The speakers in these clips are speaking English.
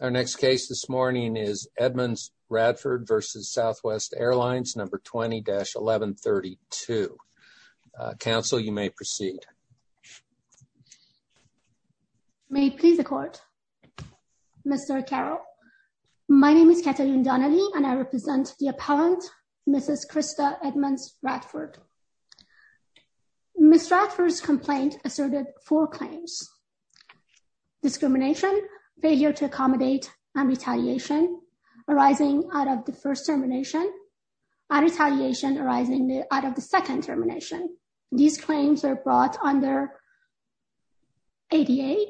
Our next case this morning is Edmonds-Radford v. Southwest Airlines, number 20-1132. Counsel, you may proceed. May it please the court. Mr. Carroll, my name is Kathleen Donnelly and I represent the appellant, Mrs. Krista Edmonds-Radford. Ms. Radford's complaint asserted four claims. Discrimination, failure to accommodate, and retaliation arising out of the first termination and retaliation arising out of the second termination. These claims are brought under ADA,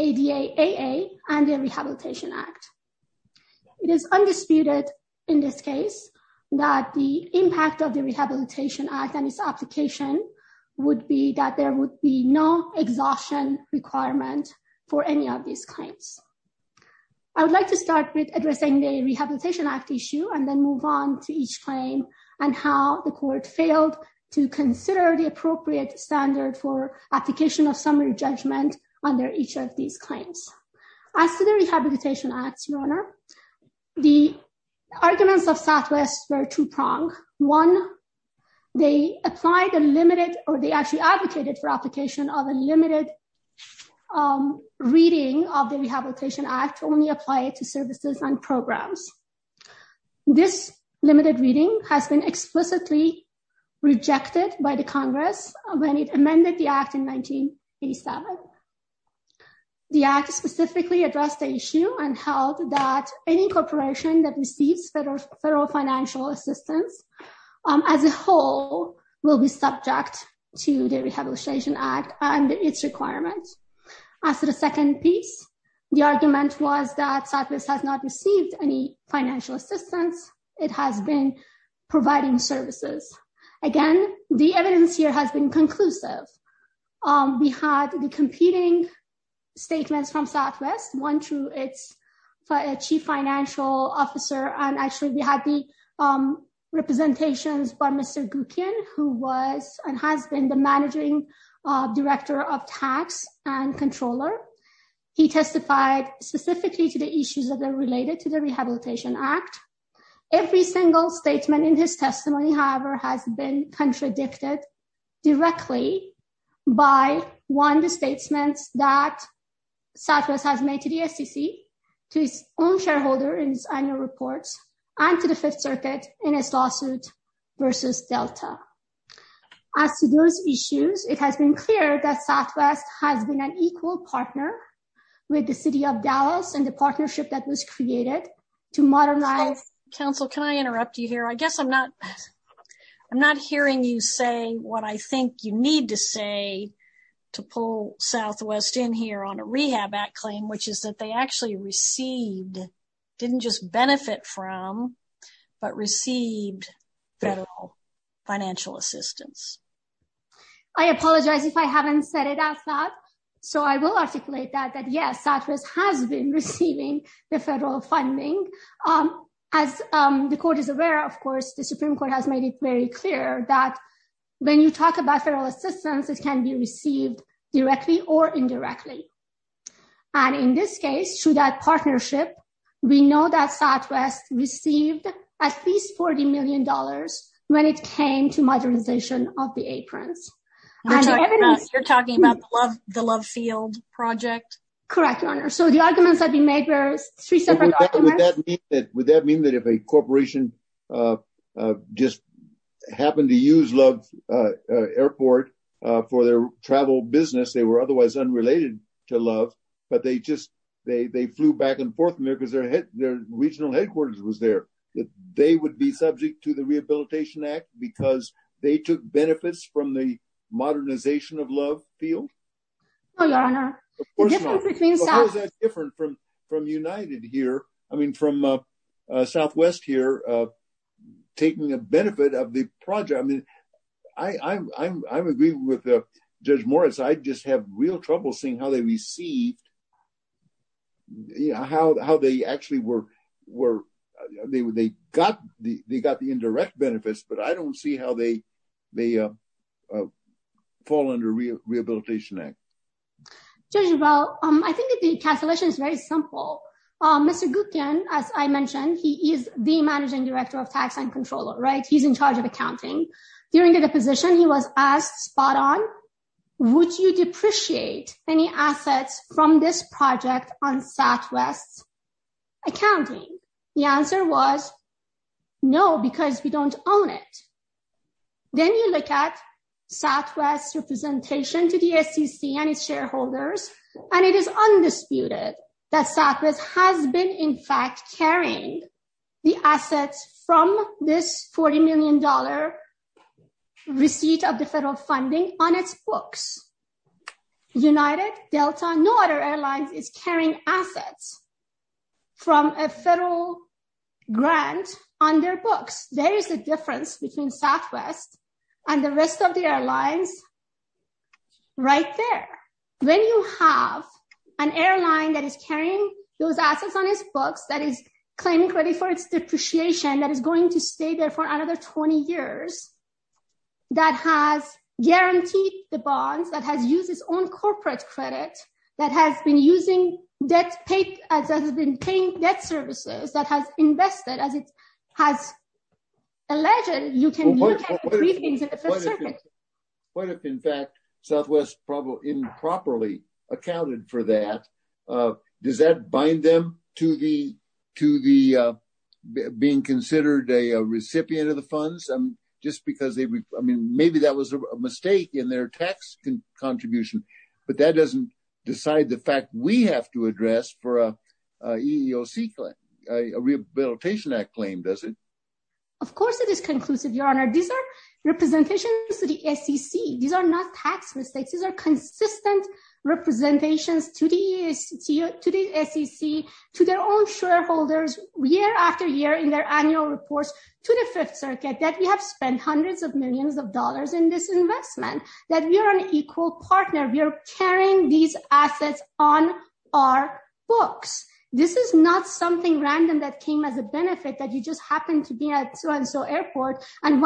ADAAA, and the Rehabilitation Act. It is undisputed in this case that the impact of the exhaustion requirement for any of these claims. I would like to start with addressing the Rehabilitation Act issue and then move on to each claim and how the court failed to consider the appropriate standard for application of summary judgment under each of these claims. As to the Rehabilitation Act, Your Honor, the arguments of Southwest were two-pronged. One, they applied a limited or they actually advocated for application of a limited reading of the Rehabilitation Act to only apply it to services and programs. This limited reading has been explicitly rejected by the Congress when it amended the Act in 1987. The Act specifically addressed the issue and held that any corporation that receives federal financial assistance as a whole will be subject to the Rehabilitation Act and its requirements. As to the second piece, the argument was that Southwest has not received any financial assistance. It has been providing services. Again, the evidence here has been conclusive. We had the competing statements from Southwest, one through its chief financial officer, and actually we had the representations by Mr. Gukin, who was and has been the managing director of tax and controller. He testified specifically to the issues that are related to the Rehabilitation Act. Every single statement in his testimony, however, has been contradicted directly by, one, the Southwest has made to the SEC, to its own shareholder in its annual reports, and to the Fifth Circuit in its lawsuit versus Delta. As to those issues, it has been clear that Southwest has been an equal partner with the City of Dallas and the partnership that was created to modernize- Counsel, can I interrupt you here? I guess I'm not hearing you say what I think you need to say to pull Southwest in here on a Rehab Act claim, which is that they actually received, didn't just benefit from, but received federal financial assistance. I apologize if I haven't said it as that. I will articulate that, that yes, Southwest has been receiving the federal funding. As the Court is aware, of course, the Supreme Court has made it clear that when you talk about federal assistance, it can be received directly or indirectly. In this case, through that partnership, we know that Southwest received at least $40 million when it came to modernization of the aprons. You're talking about the Love Field project? Correct, Your Honor. The arguments that we made were three separate arguments. Would that mean that if a corporation just happened to use Love Airport for their travel business, they were otherwise unrelated to Love, but they just flew back and forth from there because their regional headquarters was there, that they would be subject to the Rehabilitation Act because they took benefits from the modernization of Love Field? No, Your Honor. The difference between South- Southwest here taking a benefit of the project. I'm agreeing with Judge Morris. I just have real trouble seeing how they actually got the indirect benefits, but I don't see how they fall under Rehabilitation Act. Judge Rebell, I think the cancellation is very simple. Mr. Gutian, as I mentioned, he is the Managing Director of Tax and Controller, right? He's in charge of accounting. During the deposition, he was asked spot on, would you depreciate any assets from this project on Southwest's accounting? The answer was no, because we don't own it. Then you look at Southwest's representation to the SEC and its shareholders, and it is undisputed that Southwest has been in fact carrying the assets from this $40 million receipt of the federal funding on its books. United, Delta, no other airlines is carrying assets from a federal grant on their books. There is a difference between Southwest and the rest of the airlines right there. When you have an airline that is carrying those assets on its books, that is claiming credit for its depreciation, that is going to stay there for another 20 years, that has guaranteed the bonds, that has used its own debt, that has been paying debt services, that has invested as it has alleged. What if, in fact, Southwest probably improperly accounted for that? Does that bind them to the being considered a recipient of the funds? Maybe that was a mistake in their tax contribution, but that doesn't decide the fact we have to address for a EEOC, a Rehabilitation Act claim, does it? Of course, it is conclusive, Your Honor. These are representations to the SEC. These are not tax mistakes. These are consistent representations to the SEC, to their own shareholders, year after year in their annual reports to the Fifth Circuit that we have spent millions of dollars in this investment, that we are an equal partner. We are carrying these assets on our books. This is not something random that came as a benefit that you just happen to be at so-and-so airport and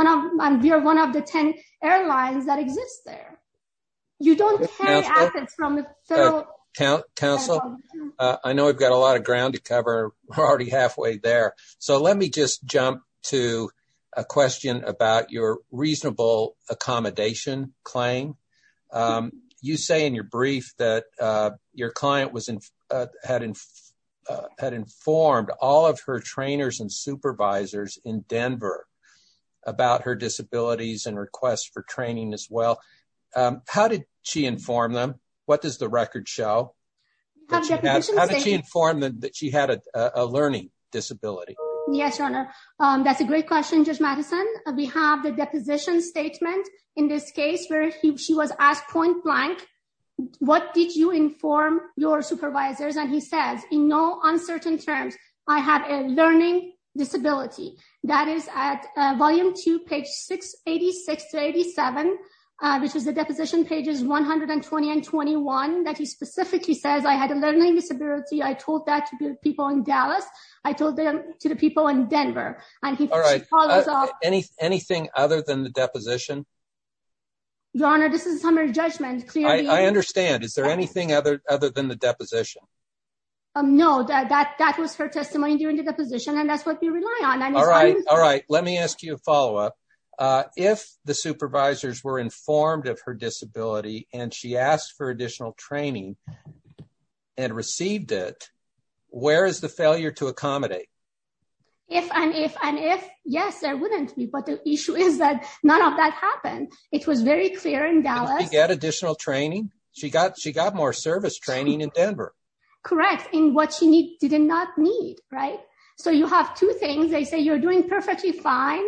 we are one of the 10 airlines that exist there. You don't carry assets from the federal government. Counsel, I know we've got a lot of ground to cover. We're already halfway there. Let me just jump to a question about your reasonable accommodation claim. You say in your brief that your client had informed all of her trainers and supervisors in Denver about her disabilities and requests for training as well. How did she inform them? What does the record show? How did she inform them that she had a learning disability? Yes, Your Honor. That's a great question, Judge Madison. We have the deposition statement in this case where she was asked point blank, what did you inform your supervisors? And he says, in no uncertain terms, I had a learning disability. That is at volume two, page 686 to 87, which is the deposition pages 120 and 21, that he specifically says, I had a learning disability. I told that to the people in Dallas. I told them to the people in Denver. Anything other than the deposition? Your Honor, this is a summary judgment. I understand. Is there anything other than the deposition? No, that was her testimony during the deposition and that's what we rely on. All right. Let me ask you a follow-up. If the supervisors were informed of her disability and she asked for additional training and received it, where is the failure to accommodate? Yes, there wouldn't be, but the issue is that none of that happened. It was very clear in Dallas. Did she get additional training? She got more service training in Denver. Correct. In what she did not need, right? So you have two things. They say you're doing perfectly fine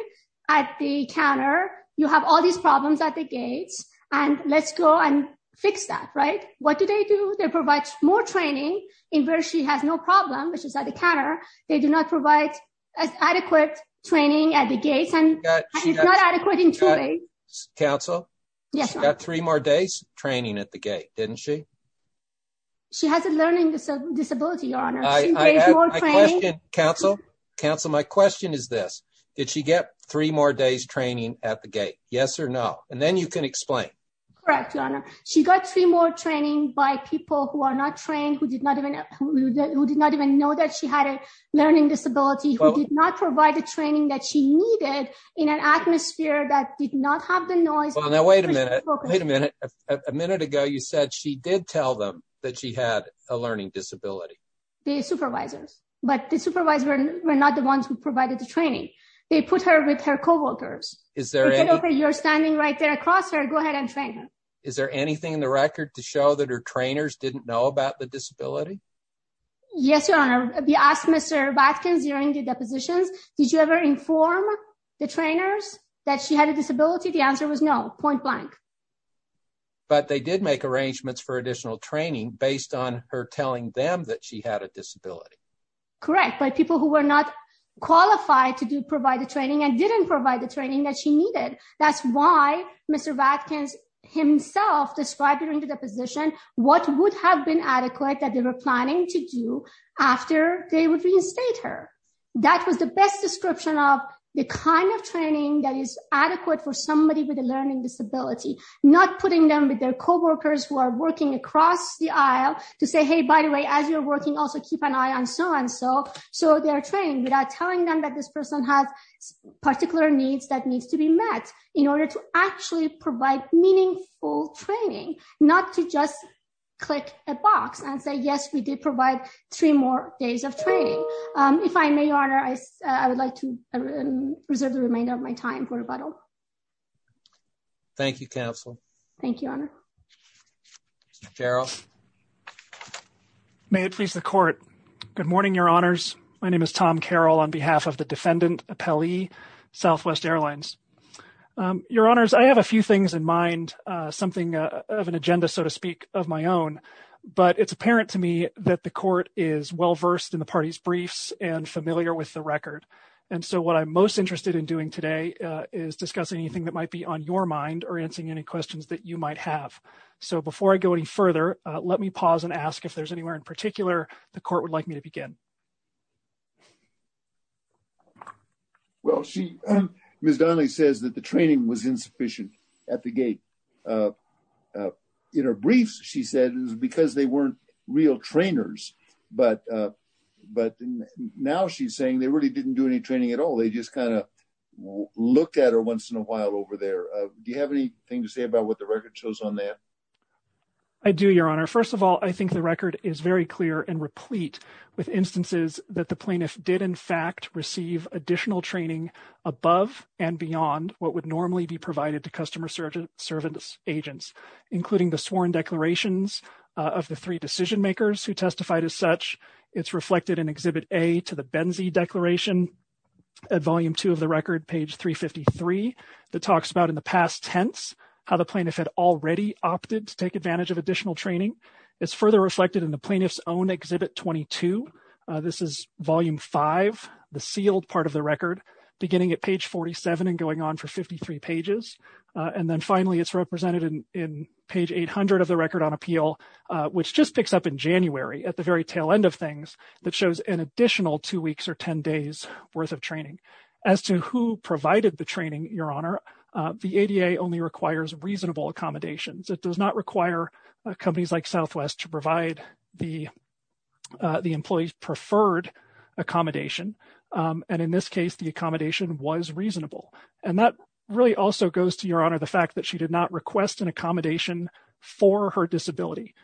at the counter. You have all these problems at the gates and let's go and fix that, right? What do they do? They provide more training in where she has no problem, which is at the counter. They do not provide adequate training at the gates and it's not adequate in two ways. Counsel, she got three more days training at the gate, didn't she? She has a learning disability, Your Honor. She needs more training. Counsel, my question is this. Did she get three more days training at the gate? Yes or no? And then you can explain. Correct, Your Honor. She got three more training by people who are not trained, who did not even know that she had a learning disability, who did not provide the training that she needed in an atmosphere that did not have the noise. Well, now wait a minute. Wait a minute. A minute ago, you said she did tell them that she had a learning disability. The supervisors. But the supervisors were not the ones who provided the training. They put her with her co-workers. You're standing right there across her. Go ahead and train her. Is there anything in the record to show that her trainers didn't know about the disability? Yes, Your Honor. We asked Mr. Watkins during the depositions, did you ever inform the trainers that she had a disability? The answer was no, point blank. But they did make arrangements for additional training based on her telling them that she had a disability. Correct, by people who were not qualified to provide the training and didn't provide the training that she needed. That's why Mr. Watkins himself described during the deposition what would have been adequate that they were planning to do after they would reinstate her. That was the best description of the kind of training that is adequate for somebody with a learning disability. Not putting them with their co-workers who are working across the aisle to say, hey, by the way, as you're working, also keep an eye on so and so. So they're trained without telling them that this person has particular needs that needs to be met in order to actually provide meaningful training, not to just click a box and say, yes, we did provide three more days of training. If I may, Your Honor, I would like to reserve the remainder of my time for rebuttal. Thank you, Counsel. Thank you, Your Honor. Carroll. May it please the Court. Good morning, Your Honors. My name is Tom Carroll on behalf of the Defendant Appellee, Southwest Airlines. Your Honors, I have a few things in mind, something of an agenda, so to speak, of my own. But it's apparent to me that the Court is well versed in the party's briefs and familiar with the record. And so what I'm most interested in doing today is discussing anything that might be on your mind or answering any questions that you might have. So before I go any further, let me pause and ask if there's anywhere in particular the Court would like me to begin. Well, she, Ms. Donnelly says that the training was insufficient at the gate. In her briefs, she said it was because they weren't real trainers. But now she's saying they really didn't do any training at all. They just kind of looked at her once in a while over there. Do you have anything to say about what the record shows on that? I do, Your Honor. First of all, I think the record is very clear and replete with instances that the plaintiff did, in fact, receive additional training above and beyond what would normally be provided to customer service agents, including the sworn declarations of the three decision makers who testified as such. It's reflected in Exhibit A to the Benzie Declaration at Volume 2 of the record, page 353, that talks about in the past tense how the plaintiff had already opted to take advantage of additional training. It's further reflected in the plaintiff's own Exhibit 22. This is Volume 5, the sealed part of the record, beginning at page 47 and going on for 53 pages. And then finally, it's represented in page 800 of the record on appeal, which just picks up in January at the very tail end of things, that shows an additional two weeks or 10 days worth of training. As to who provided the training, Your Honor, the ADA only requires reasonable accommodations. It does not require companies like Southwest to provide the employee's reasonable. And that really also goes to Your Honor, the fact that she did not request an accommodation for her disability.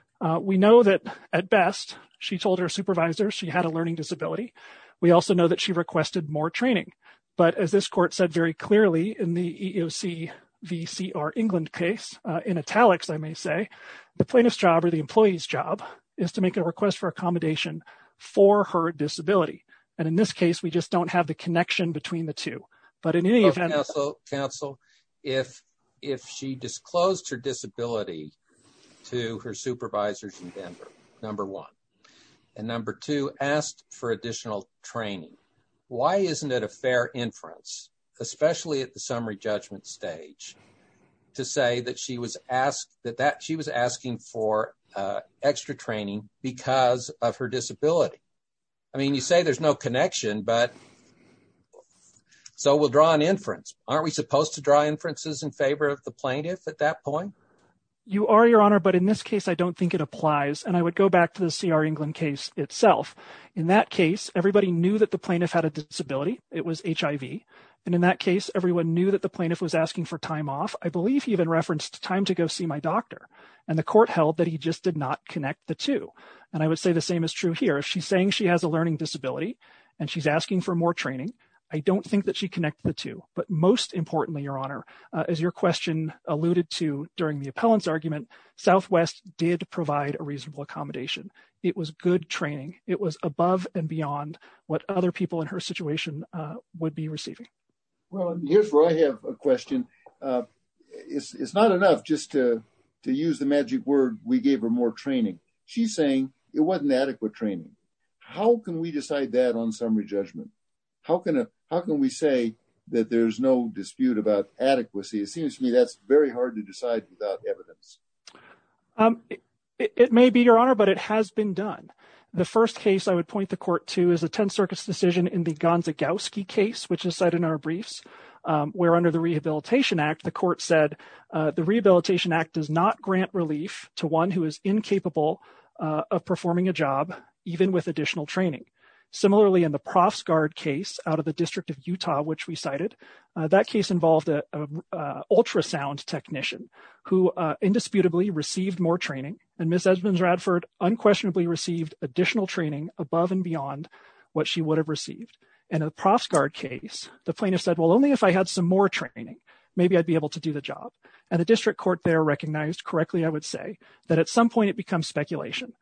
We know that, at best, she told her supervisor she had a learning disability. We also know that she requested more training. But as this court said very clearly in the EEOC v. C.R. England case, in italics, I may say, the plaintiff's job or the employee's job is to make a request for accommodation for her disability. And in this case, we just don't have a connection between the two. But in any event... Counsel, if she disclosed her disability to her supervisors in Denver, number one, and number two, asked for additional training, why isn't it a fair inference, especially at the summary judgment stage, to say that she was asking for extra training because of her disability? I mean, you say there's no connection, but... So we'll draw an inference. Aren't we supposed to draw inferences in favor of the plaintiff at that point? You are, Your Honor, but in this case, I don't think it applies. And I would go back to the C.R. England case itself. In that case, everybody knew that the plaintiff had a disability. It was HIV. And in that case, everyone knew that the plaintiff was asking for time off. I believe he even referenced time to go see my doctor. And the court held that he just did not connect the two. And I would say the same is true here. If she's a learning disability and she's asking for more training, I don't think that she connected the two. But most importantly, Your Honor, as your question alluded to during the appellant's argument, Southwest did provide a reasonable accommodation. It was good training. It was above and beyond what other people in her situation would be receiving. Well, and here's where I have a question. It's not enough just to use the magic word, we gave her more training. She's saying it wasn't adequate training. How can we decide that on summary judgment? How can we say that there's no dispute about adequacy? It seems to me that's very hard to decide without evidence. It may be, Your Honor, but it has been done. The first case I would point the court to is a Tenth Circuit's decision in the Gonzagauski case, which is cited in our briefs, where under the Rehabilitation Act, the court said the Rehabilitation Act does not grant relief to one who is incapable of performing a job, even with additional training. Similarly, in the Profsguard case out of the District of Utah, which we cited, that case involved an ultrasound technician who indisputably received more training, and Ms. Edmonds-Radford unquestionably received additional training above and beyond what she would have received. In a Profsguard case, the plaintiff said, well, only if I had some more training, maybe I'd be able to do the job. And the district court there recognized, correctly, I would say, that at some point, it becomes speculation.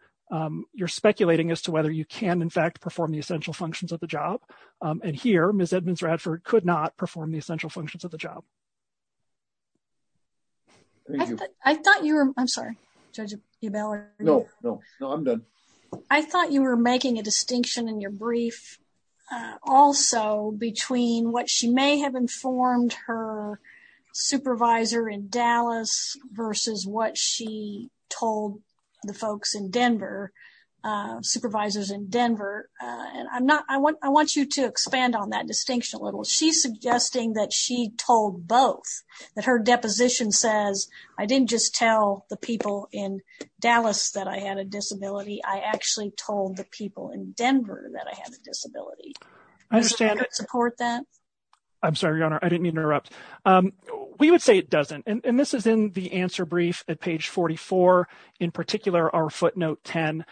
You're speculating as to whether you can, in fact, perform the essential functions of the job. And here, Ms. Edmonds-Radford could not perform the essential functions of the job. Thank you. I thought you were, I'm sorry, Judge Ebellard. No, no, no, I'm done. I thought you were making a distinction in your brief also between what she may have informed her supervisor in Dallas versus what she told the folks in Denver, supervisors in Denver. And I'm not, I want you to expand on that distinction a little. She's suggesting that she told both, that her deposition says, I didn't just tell the people in Dallas that I had a disability, I actually told the people in Denver that I had a disability. Do you support that? I'm sorry, Your Honor, I didn't mean to interrupt. We would say it doesn't. And this is in the answer brief at page 44, in particular, our footnote 10.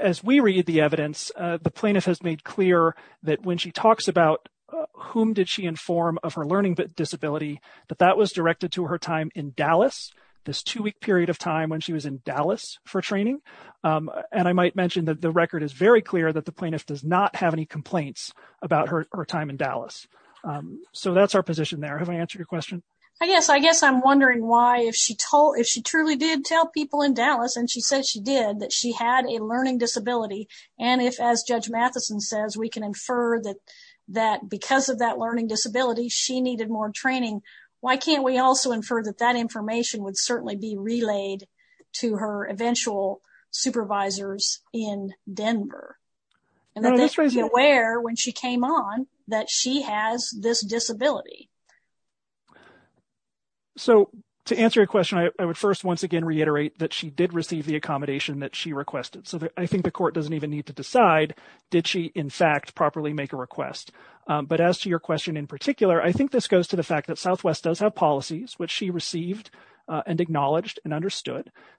As we read the evidence, the plaintiff has made clear that when she talks about whom did she inform of her learning disability, that that was directed to her time in Dallas, this two-week period of time when she was in Dallas for training. And I might mention that the record is very clear that the plaintiff does not have any complaints about her time in Dallas. So that's our position there. Have I answered your question? I guess, I guess I'm wondering why if she told, if she truly did tell people in Dallas, and she said she did, that she had a learning disability. And if, as Judge Matheson says, we can infer that, that because of that learning disability, she needed more training. Why can't we also infer that that information would certainly be relayed to her eventual supervisors in Denver? And that they'd be aware when she came on that she has this disability. So to answer your question, I would first, once again, reiterate that she did receive the accommodation that she requested. So I think the court doesn't even need to decide did she, in fact, properly make a request. But as to your question in particular, I think this that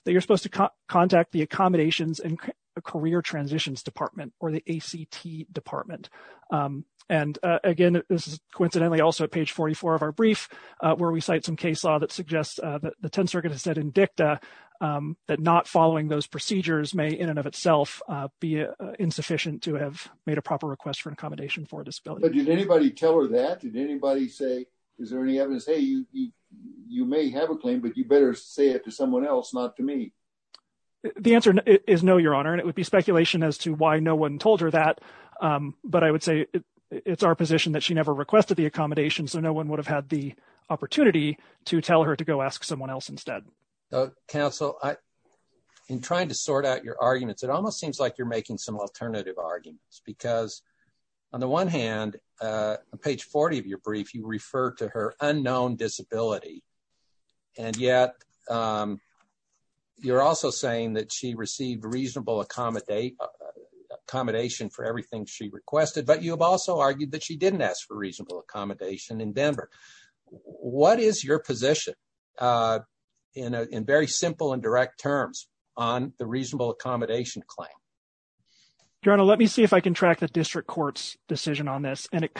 you're supposed to contact the accommodations and career transitions department or the ACT department. And again, this is coincidentally also page 44 of our brief, where we cite some case law that suggests that the 10th Circuit has said in dicta that not following those procedures may in and of itself be insufficient to have made a proper request for an accommodation for disability. But did anybody tell her that? Did anybody say, is there any evidence? Hey, you may have a claim, but you better say it to someone else, not to me. The answer is no, your honor. And it would be speculation as to why no one told her that. But I would say it's our position that she never requested the accommodation. So no one would have had the opportunity to tell her to go ask someone else instead. Counsel, I am trying to sort out your arguments. It almost seems like you're making some alternative arguments because on the one hand, page 40 of your brief, you refer to her unknown disability. And yet you're also saying that she received reasonable accommodation for everything she requested, but you have also argued that she didn't ask for reasonable accommodation in Denver. What is your position in very simple and direct terms on the reasonable accommodation claim? Your honor, let me see if I can track the district court's decision on this. And it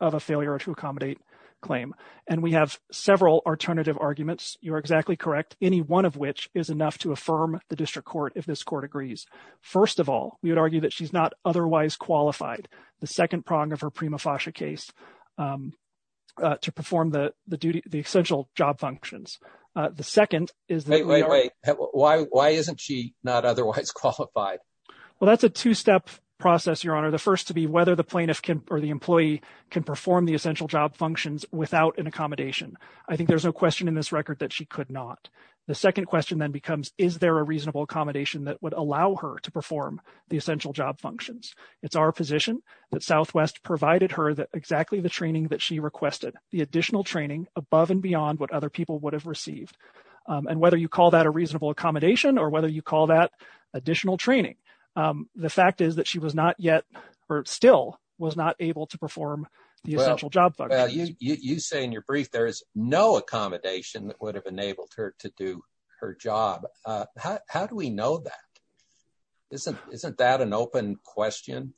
of a failure to accommodate claim. And we have several alternative arguments. You're exactly correct. Any one of which is enough to affirm the district court. If this court agrees, first of all, we would argue that she's not otherwise qualified. The second prong of her prima facie case to perform the duty, the essential job functions. The second is- Wait, wait, wait. Why isn't she not otherwise qualified? Well, that's a two-step process, your honor. The first to be whether the plaintiff can, or the employee can perform the essential job functions without an accommodation. I think there's no question in this record that she could not. The second question then becomes, is there a reasonable accommodation that would allow her to perform the essential job functions? It's our position that Southwest provided her that exactly the training that she requested, the additional training above and beyond what other people would have received. And whether you call that a reasonable accommodation or whether you call that able to perform the essential job functions. You say in your brief, there is no accommodation that would have enabled her to do her job. How do we know that? Isn't that an open question?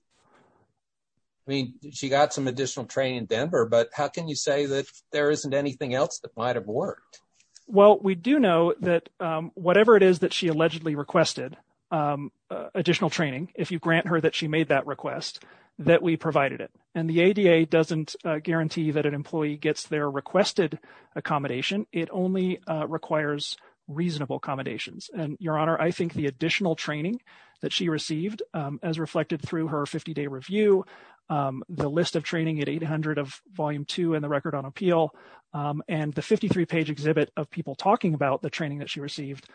I mean, she got some additional training in Denver, but how can you say that there isn't anything else that might've worked? Well, we do know that whatever it is that she allegedly requested additional training, if you grant her that she made that request, that we provided it. And the ADA doesn't guarantee that an employee gets their requested accommodation. It only requires reasonable accommodations. And your honor, I think the additional training that she received, as reflected through her 50 day review, the list of training at 800 of volume two and the record on appeal, and the 53 page exhibit of people talking about the training that she received.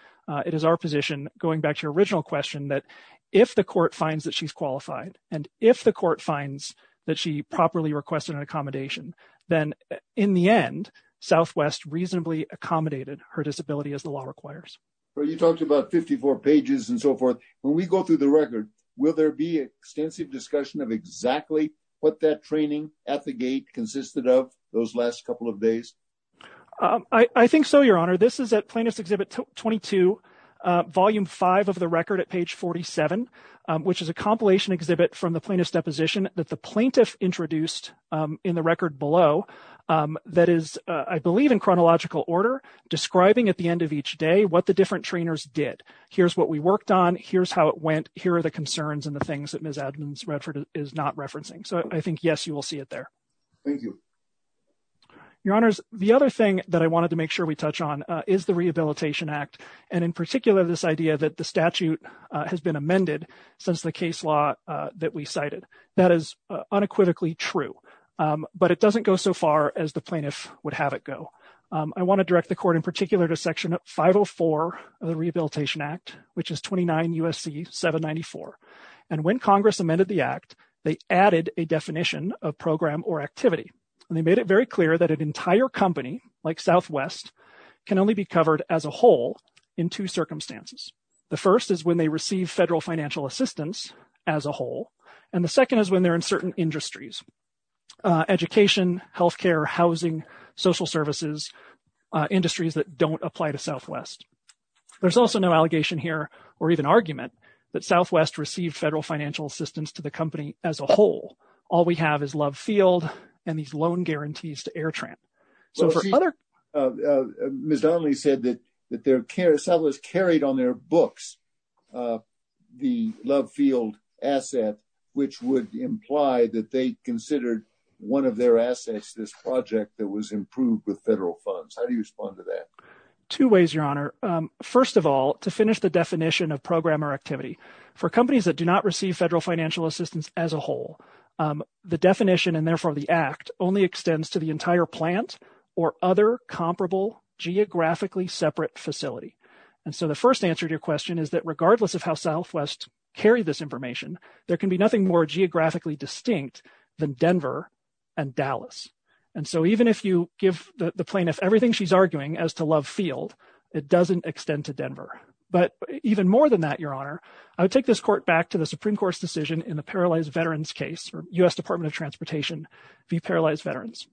It is our position going back to question that if the court finds that she's qualified, and if the court finds that she properly requested an accommodation, then in the end, Southwest reasonably accommodated her disability as the law requires. Well, you talked about 54 pages and so forth. When we go through the record, will there be extensive discussion of exactly what that training at the gate consisted of those last couple of days? I think so, your honor. This is at plaintiff's exhibit 22, volume five of the record at page 47, which is a compilation exhibit from the plaintiff's deposition that the plaintiff introduced in the record below. That is, I believe in chronological order, describing at the end of each day, what the different trainers did. Here's what we worked on. Here's how it went. Here are the concerns and the things that Ms. Edmonds Redford is not Your honors, the other thing that I wanted to make sure we touch on is the Rehabilitation Act, and in particular, this idea that the statute has been amended since the case law that we cited. That is unequivocally true. But it doesn't go so far as the plaintiff would have it go. I want to direct the court in particular to section 504 of the Rehabilitation Act, which is 29 USC 794. And when Congress amended the act, they added a definition of program or activity, and they made it very clear that an entire company like Southwest can only be covered as a whole in two circumstances. The first is when they receive federal financial assistance as a whole. And the second is when they're in certain industries, education, health care, housing, social services, industries that don't apply to Southwest. There's also no allegation here, or even argument that Southwest received federal financial assistance to the company as a whole. All we have is Love Field and these loan guarantees to Airtramp. So for other... Well, Ms. Donnelly said that Southwest carried on their books the Love Field asset, which would imply that they considered one of their assets, this project that was improved with federal funds. How do you respond to that? Two ways, Your Honor. First of all, to finish the definition of program or activity. For companies that do not receive federal financial assistance as a whole, the definition and therefore the act only extends to the entire plant or other comparable geographically separate facility. And so the first answer to your question is that regardless of how Southwest carried this information, there can be nothing more geographically distinct than Denver and Dallas. And so even if you give the plaintiff everything she's arguing as to Love Field, it doesn't extend to Denver. But even more than that, Your Honor, I would take this court back to the Supreme Court's decision in the Paralyzed Veterans case or U.S. Department of Transportation v. Paralyzed Veterans.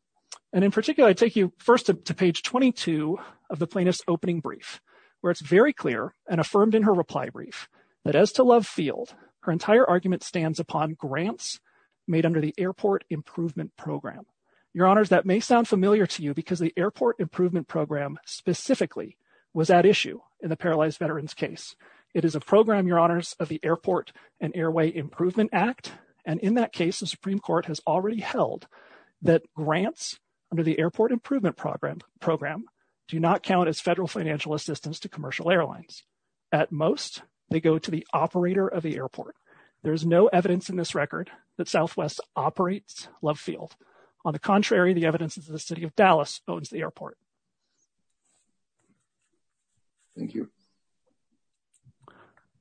And in particular, I take you first to page 22 of the plaintiff's opening brief, where it's very clear and affirmed in her reply brief that as to Love Field, her entire argument stands upon grants made under the Airport Improvement Program. Your Honors, that may sound familiar to you because the Airport Improvement Program specifically was at issue in the Paralyzed Veterans case. It is a program, Your Honors, of the Airport and Airway Improvement Act. And in that case, the Supreme Court has already held that grants under the Airport Improvement Program do not count as federal financial assistance to commercial airlines. At most, they go to the operator of the airport. There's no evidence in this record that Southwest operates Love Field. On the contrary, the evidence is that the City of Dallas owns the airport. Thank you.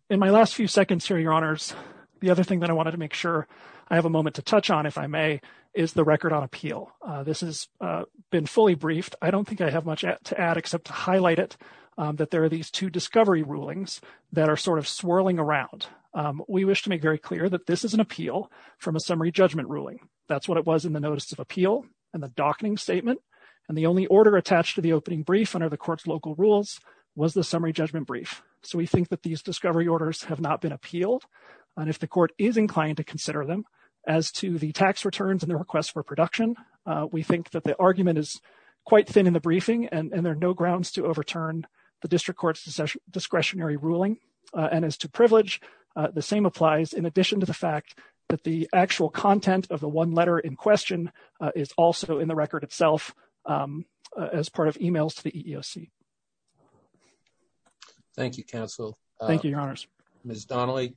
In my last few seconds here, Your Honors, the other thing that I wanted to make sure I have a moment to touch on, if I may, is the record on appeal. This has been fully briefed. I don't think I have much to add except to highlight it, that there are these two discovery rulings that are sort of swirling around. We wish to make very clear that this is an appeal from a summary judgment ruling. That's what it was in the Notice of Appeal and the Dockening Statement. And the only order attached to the opening brief under the Court's local rules was the summary judgment brief. So we think that these discovery orders have not been appealed. And if the Court is inclined to consider them as to the tax returns and the request for production, we think that the argument is quite thin in the briefing and there are no grounds to overturn the District Court's discretionary ruling. And as to privilege, the same applies in addition to the actual content of the one letter in question is also in the record itself as part of emails to the EEOC. Thank you, Counsel. Thank you, Your Honors. Ms. Donnelly?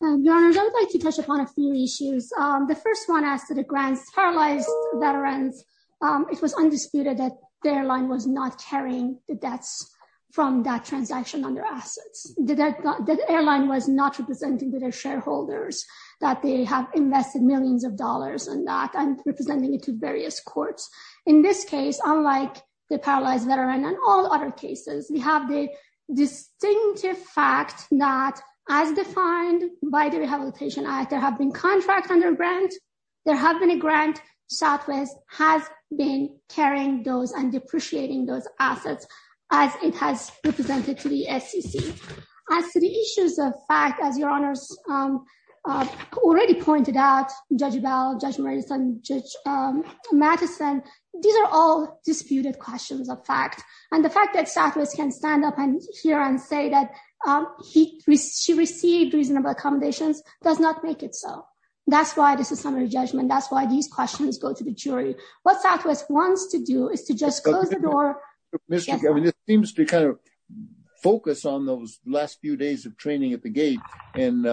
Your Honors, I would like to touch upon a few issues. The first one as to the Grants Paralyzed Veterans. It was undisputed that the airline was not carrying the debts from that transaction on their assets. The airline was not representing to their shareholders that they have invested millions of dollars in that and representing it to various courts. In this case, unlike the Paralyzed Veteran and all other cases, we have the distinctive fact that as defined by the Southwest, has been carrying those and depreciating those assets as it has represented to the SEC. As to the issues of fact, as Your Honors already pointed out, Judge Bell, Judge Madison, these are all disputed questions of fact. And the fact that Southwest can stand up here and say that she received reasonable accommodations does not make it so. That's a summary judgment. That's why these questions go to the jury. What Southwest wants to do is to just close the door. This seems to kind of focus on those last few days of training at the gate. And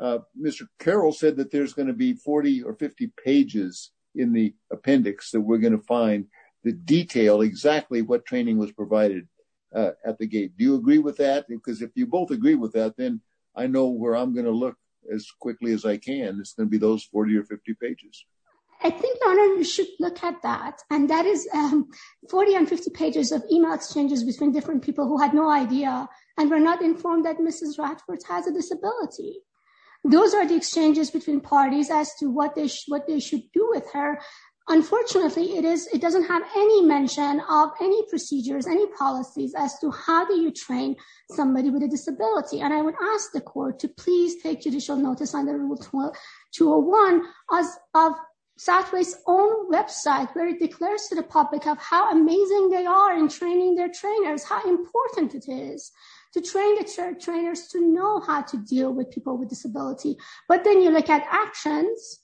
Mr. Carroll said that there's going to be 40 or 50 pages in the appendix that we're going to find the detail exactly what training was provided at the gate. Do you agree with that? Because if you both agree with that, then I know where I'm going to look as quickly as I can. It's going to be those 40 or 50 pages. I think Your Honor, you should look at that. And that is 40 and 50 pages of email exchanges between different people who had no idea and were not informed that Mrs. Ratford has a disability. Those are the exchanges between parties as to what they should do with her. Unfortunately, it doesn't have any mention of any procedures, any policies as to how do you train somebody with a disability. And I would ask the court to please take judicial notice on the 201 of Southwest's own website, where it declares to the public of how amazing they are in training their trainers, how important it is to train the trainers to know how to deal with people with disability. But then you look at actions,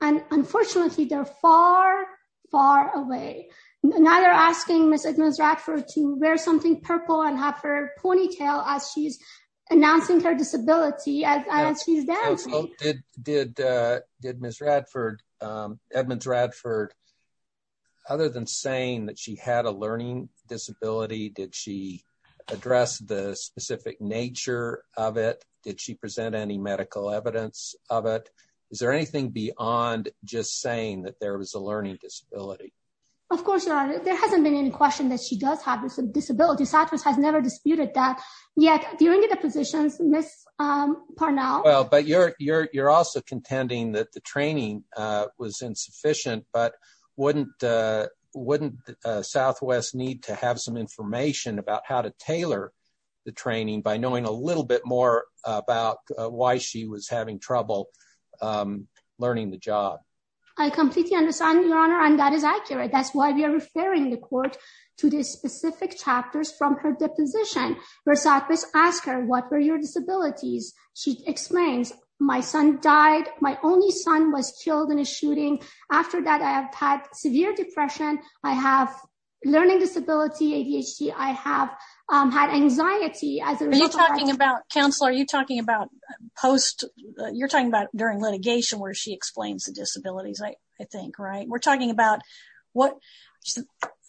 and unfortunately, they're far, far away. Now they're asking Ms. Edmonds Ratford to wear something purple and have her ponytail as she's announcing her disability. Did Ms. Edmonds Ratford, other than saying that she had a learning disability, did she address the specific nature of it? Did she present any medical evidence of it? Is there anything beyond just saying that there was a learning disability? Of course, Your Honor. There hasn't been any question that she does have a disability. Southwest has never disputed that. Yet, during the positions, Ms. Parnell... Well, but you're also contending that the training was insufficient, but wouldn't Southwest need to have some information about how to tailor the training by knowing a little bit more about why she was having trouble learning the job? I completely understand, Your Honor, and that is accurate. That's why we are referring the court to the specific chapters from her deposition, where Southwest asked her, what were your disabilities? She explains, my son died. My only son was killed in a shooting. After that, I have had severe depression. I have a learning disability, ADHD. I have had anxiety as a result of that. Are you talking about... Counselor, are you talking about post... You're talking about during litigation where she explains the what...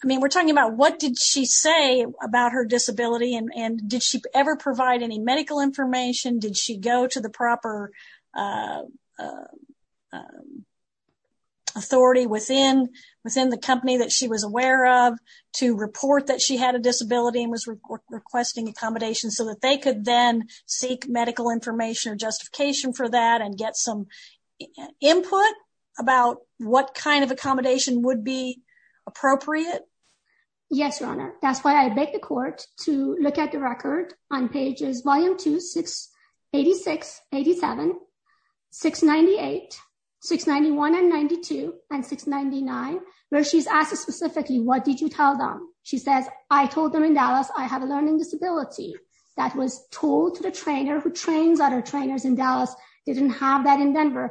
I mean, we're talking about what did she say about her disability, and did she ever provide any medical information? Did she go to the proper authority within the company that she was aware of to report that she had a disability and was requesting accommodation so that they could then seek medical information or justification for that and get some input about what kind of accommodation would be appropriate? Yes, Your Honor. That's why I beg the court to look at the record on pages volume 2, 686, 87, 698, 691, and 92, and 699, where she's asked specifically, what did you tell them? She says, I told them in Dallas, I have a learning disability. That was told to the trainer who trains other trainers in Dallas. They didn't have that in Dallas.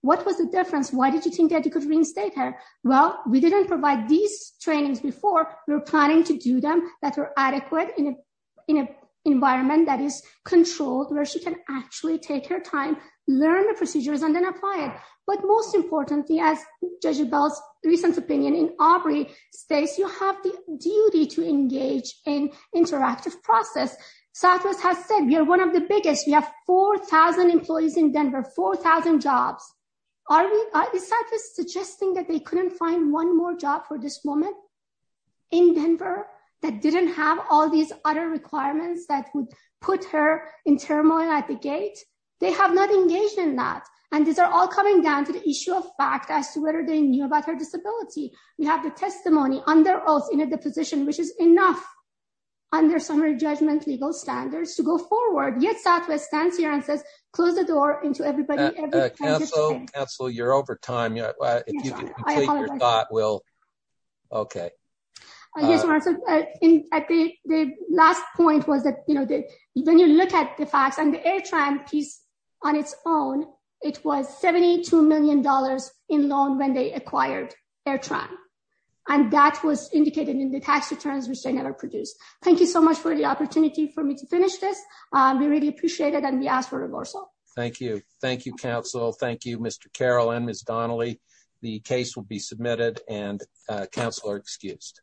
What was the difference? Why did you think that you could reinstate her? Well, we didn't provide these trainings before. We were planning to do them that were adequate in an environment that is controlled, where she can actually take her time, learn the procedures, and then apply it. But most importantly, as Judge Bell's recent opinion in Aubrey states, you have the duty to engage in interactive process. Southwest has said, we are one of the biggest. We have 4,000 employees in Denver, 4,000 jobs. Is Southwest suggesting that they couldn't find one more job for this woman in Denver that didn't have all these other requirements that would put her in turmoil at the gate? They have not engaged in that. And these are all coming down to the issue of fact as to whether they knew about her disability. We have the testimony under oath in a deposition, which is enough under summary judgment legal standards to go forward. Yet Southwest stands here and says, close the door into everybody. Council, you're over time. If you can complete your thought, we'll... Okay. The last point was that when you look at the facts and the AirTran piece on its own, it was $72 million in loan when they acquired AirTran. And that was indicated in the tax returns which they never produced. Thank you so much for the opportunity for me to finish this. We really appreciate it and we ask for reversal. Thank you. Thank you, council. Thank you, Mr. Carroll and Ms. Donnelly. The case will be submitted and council are excused.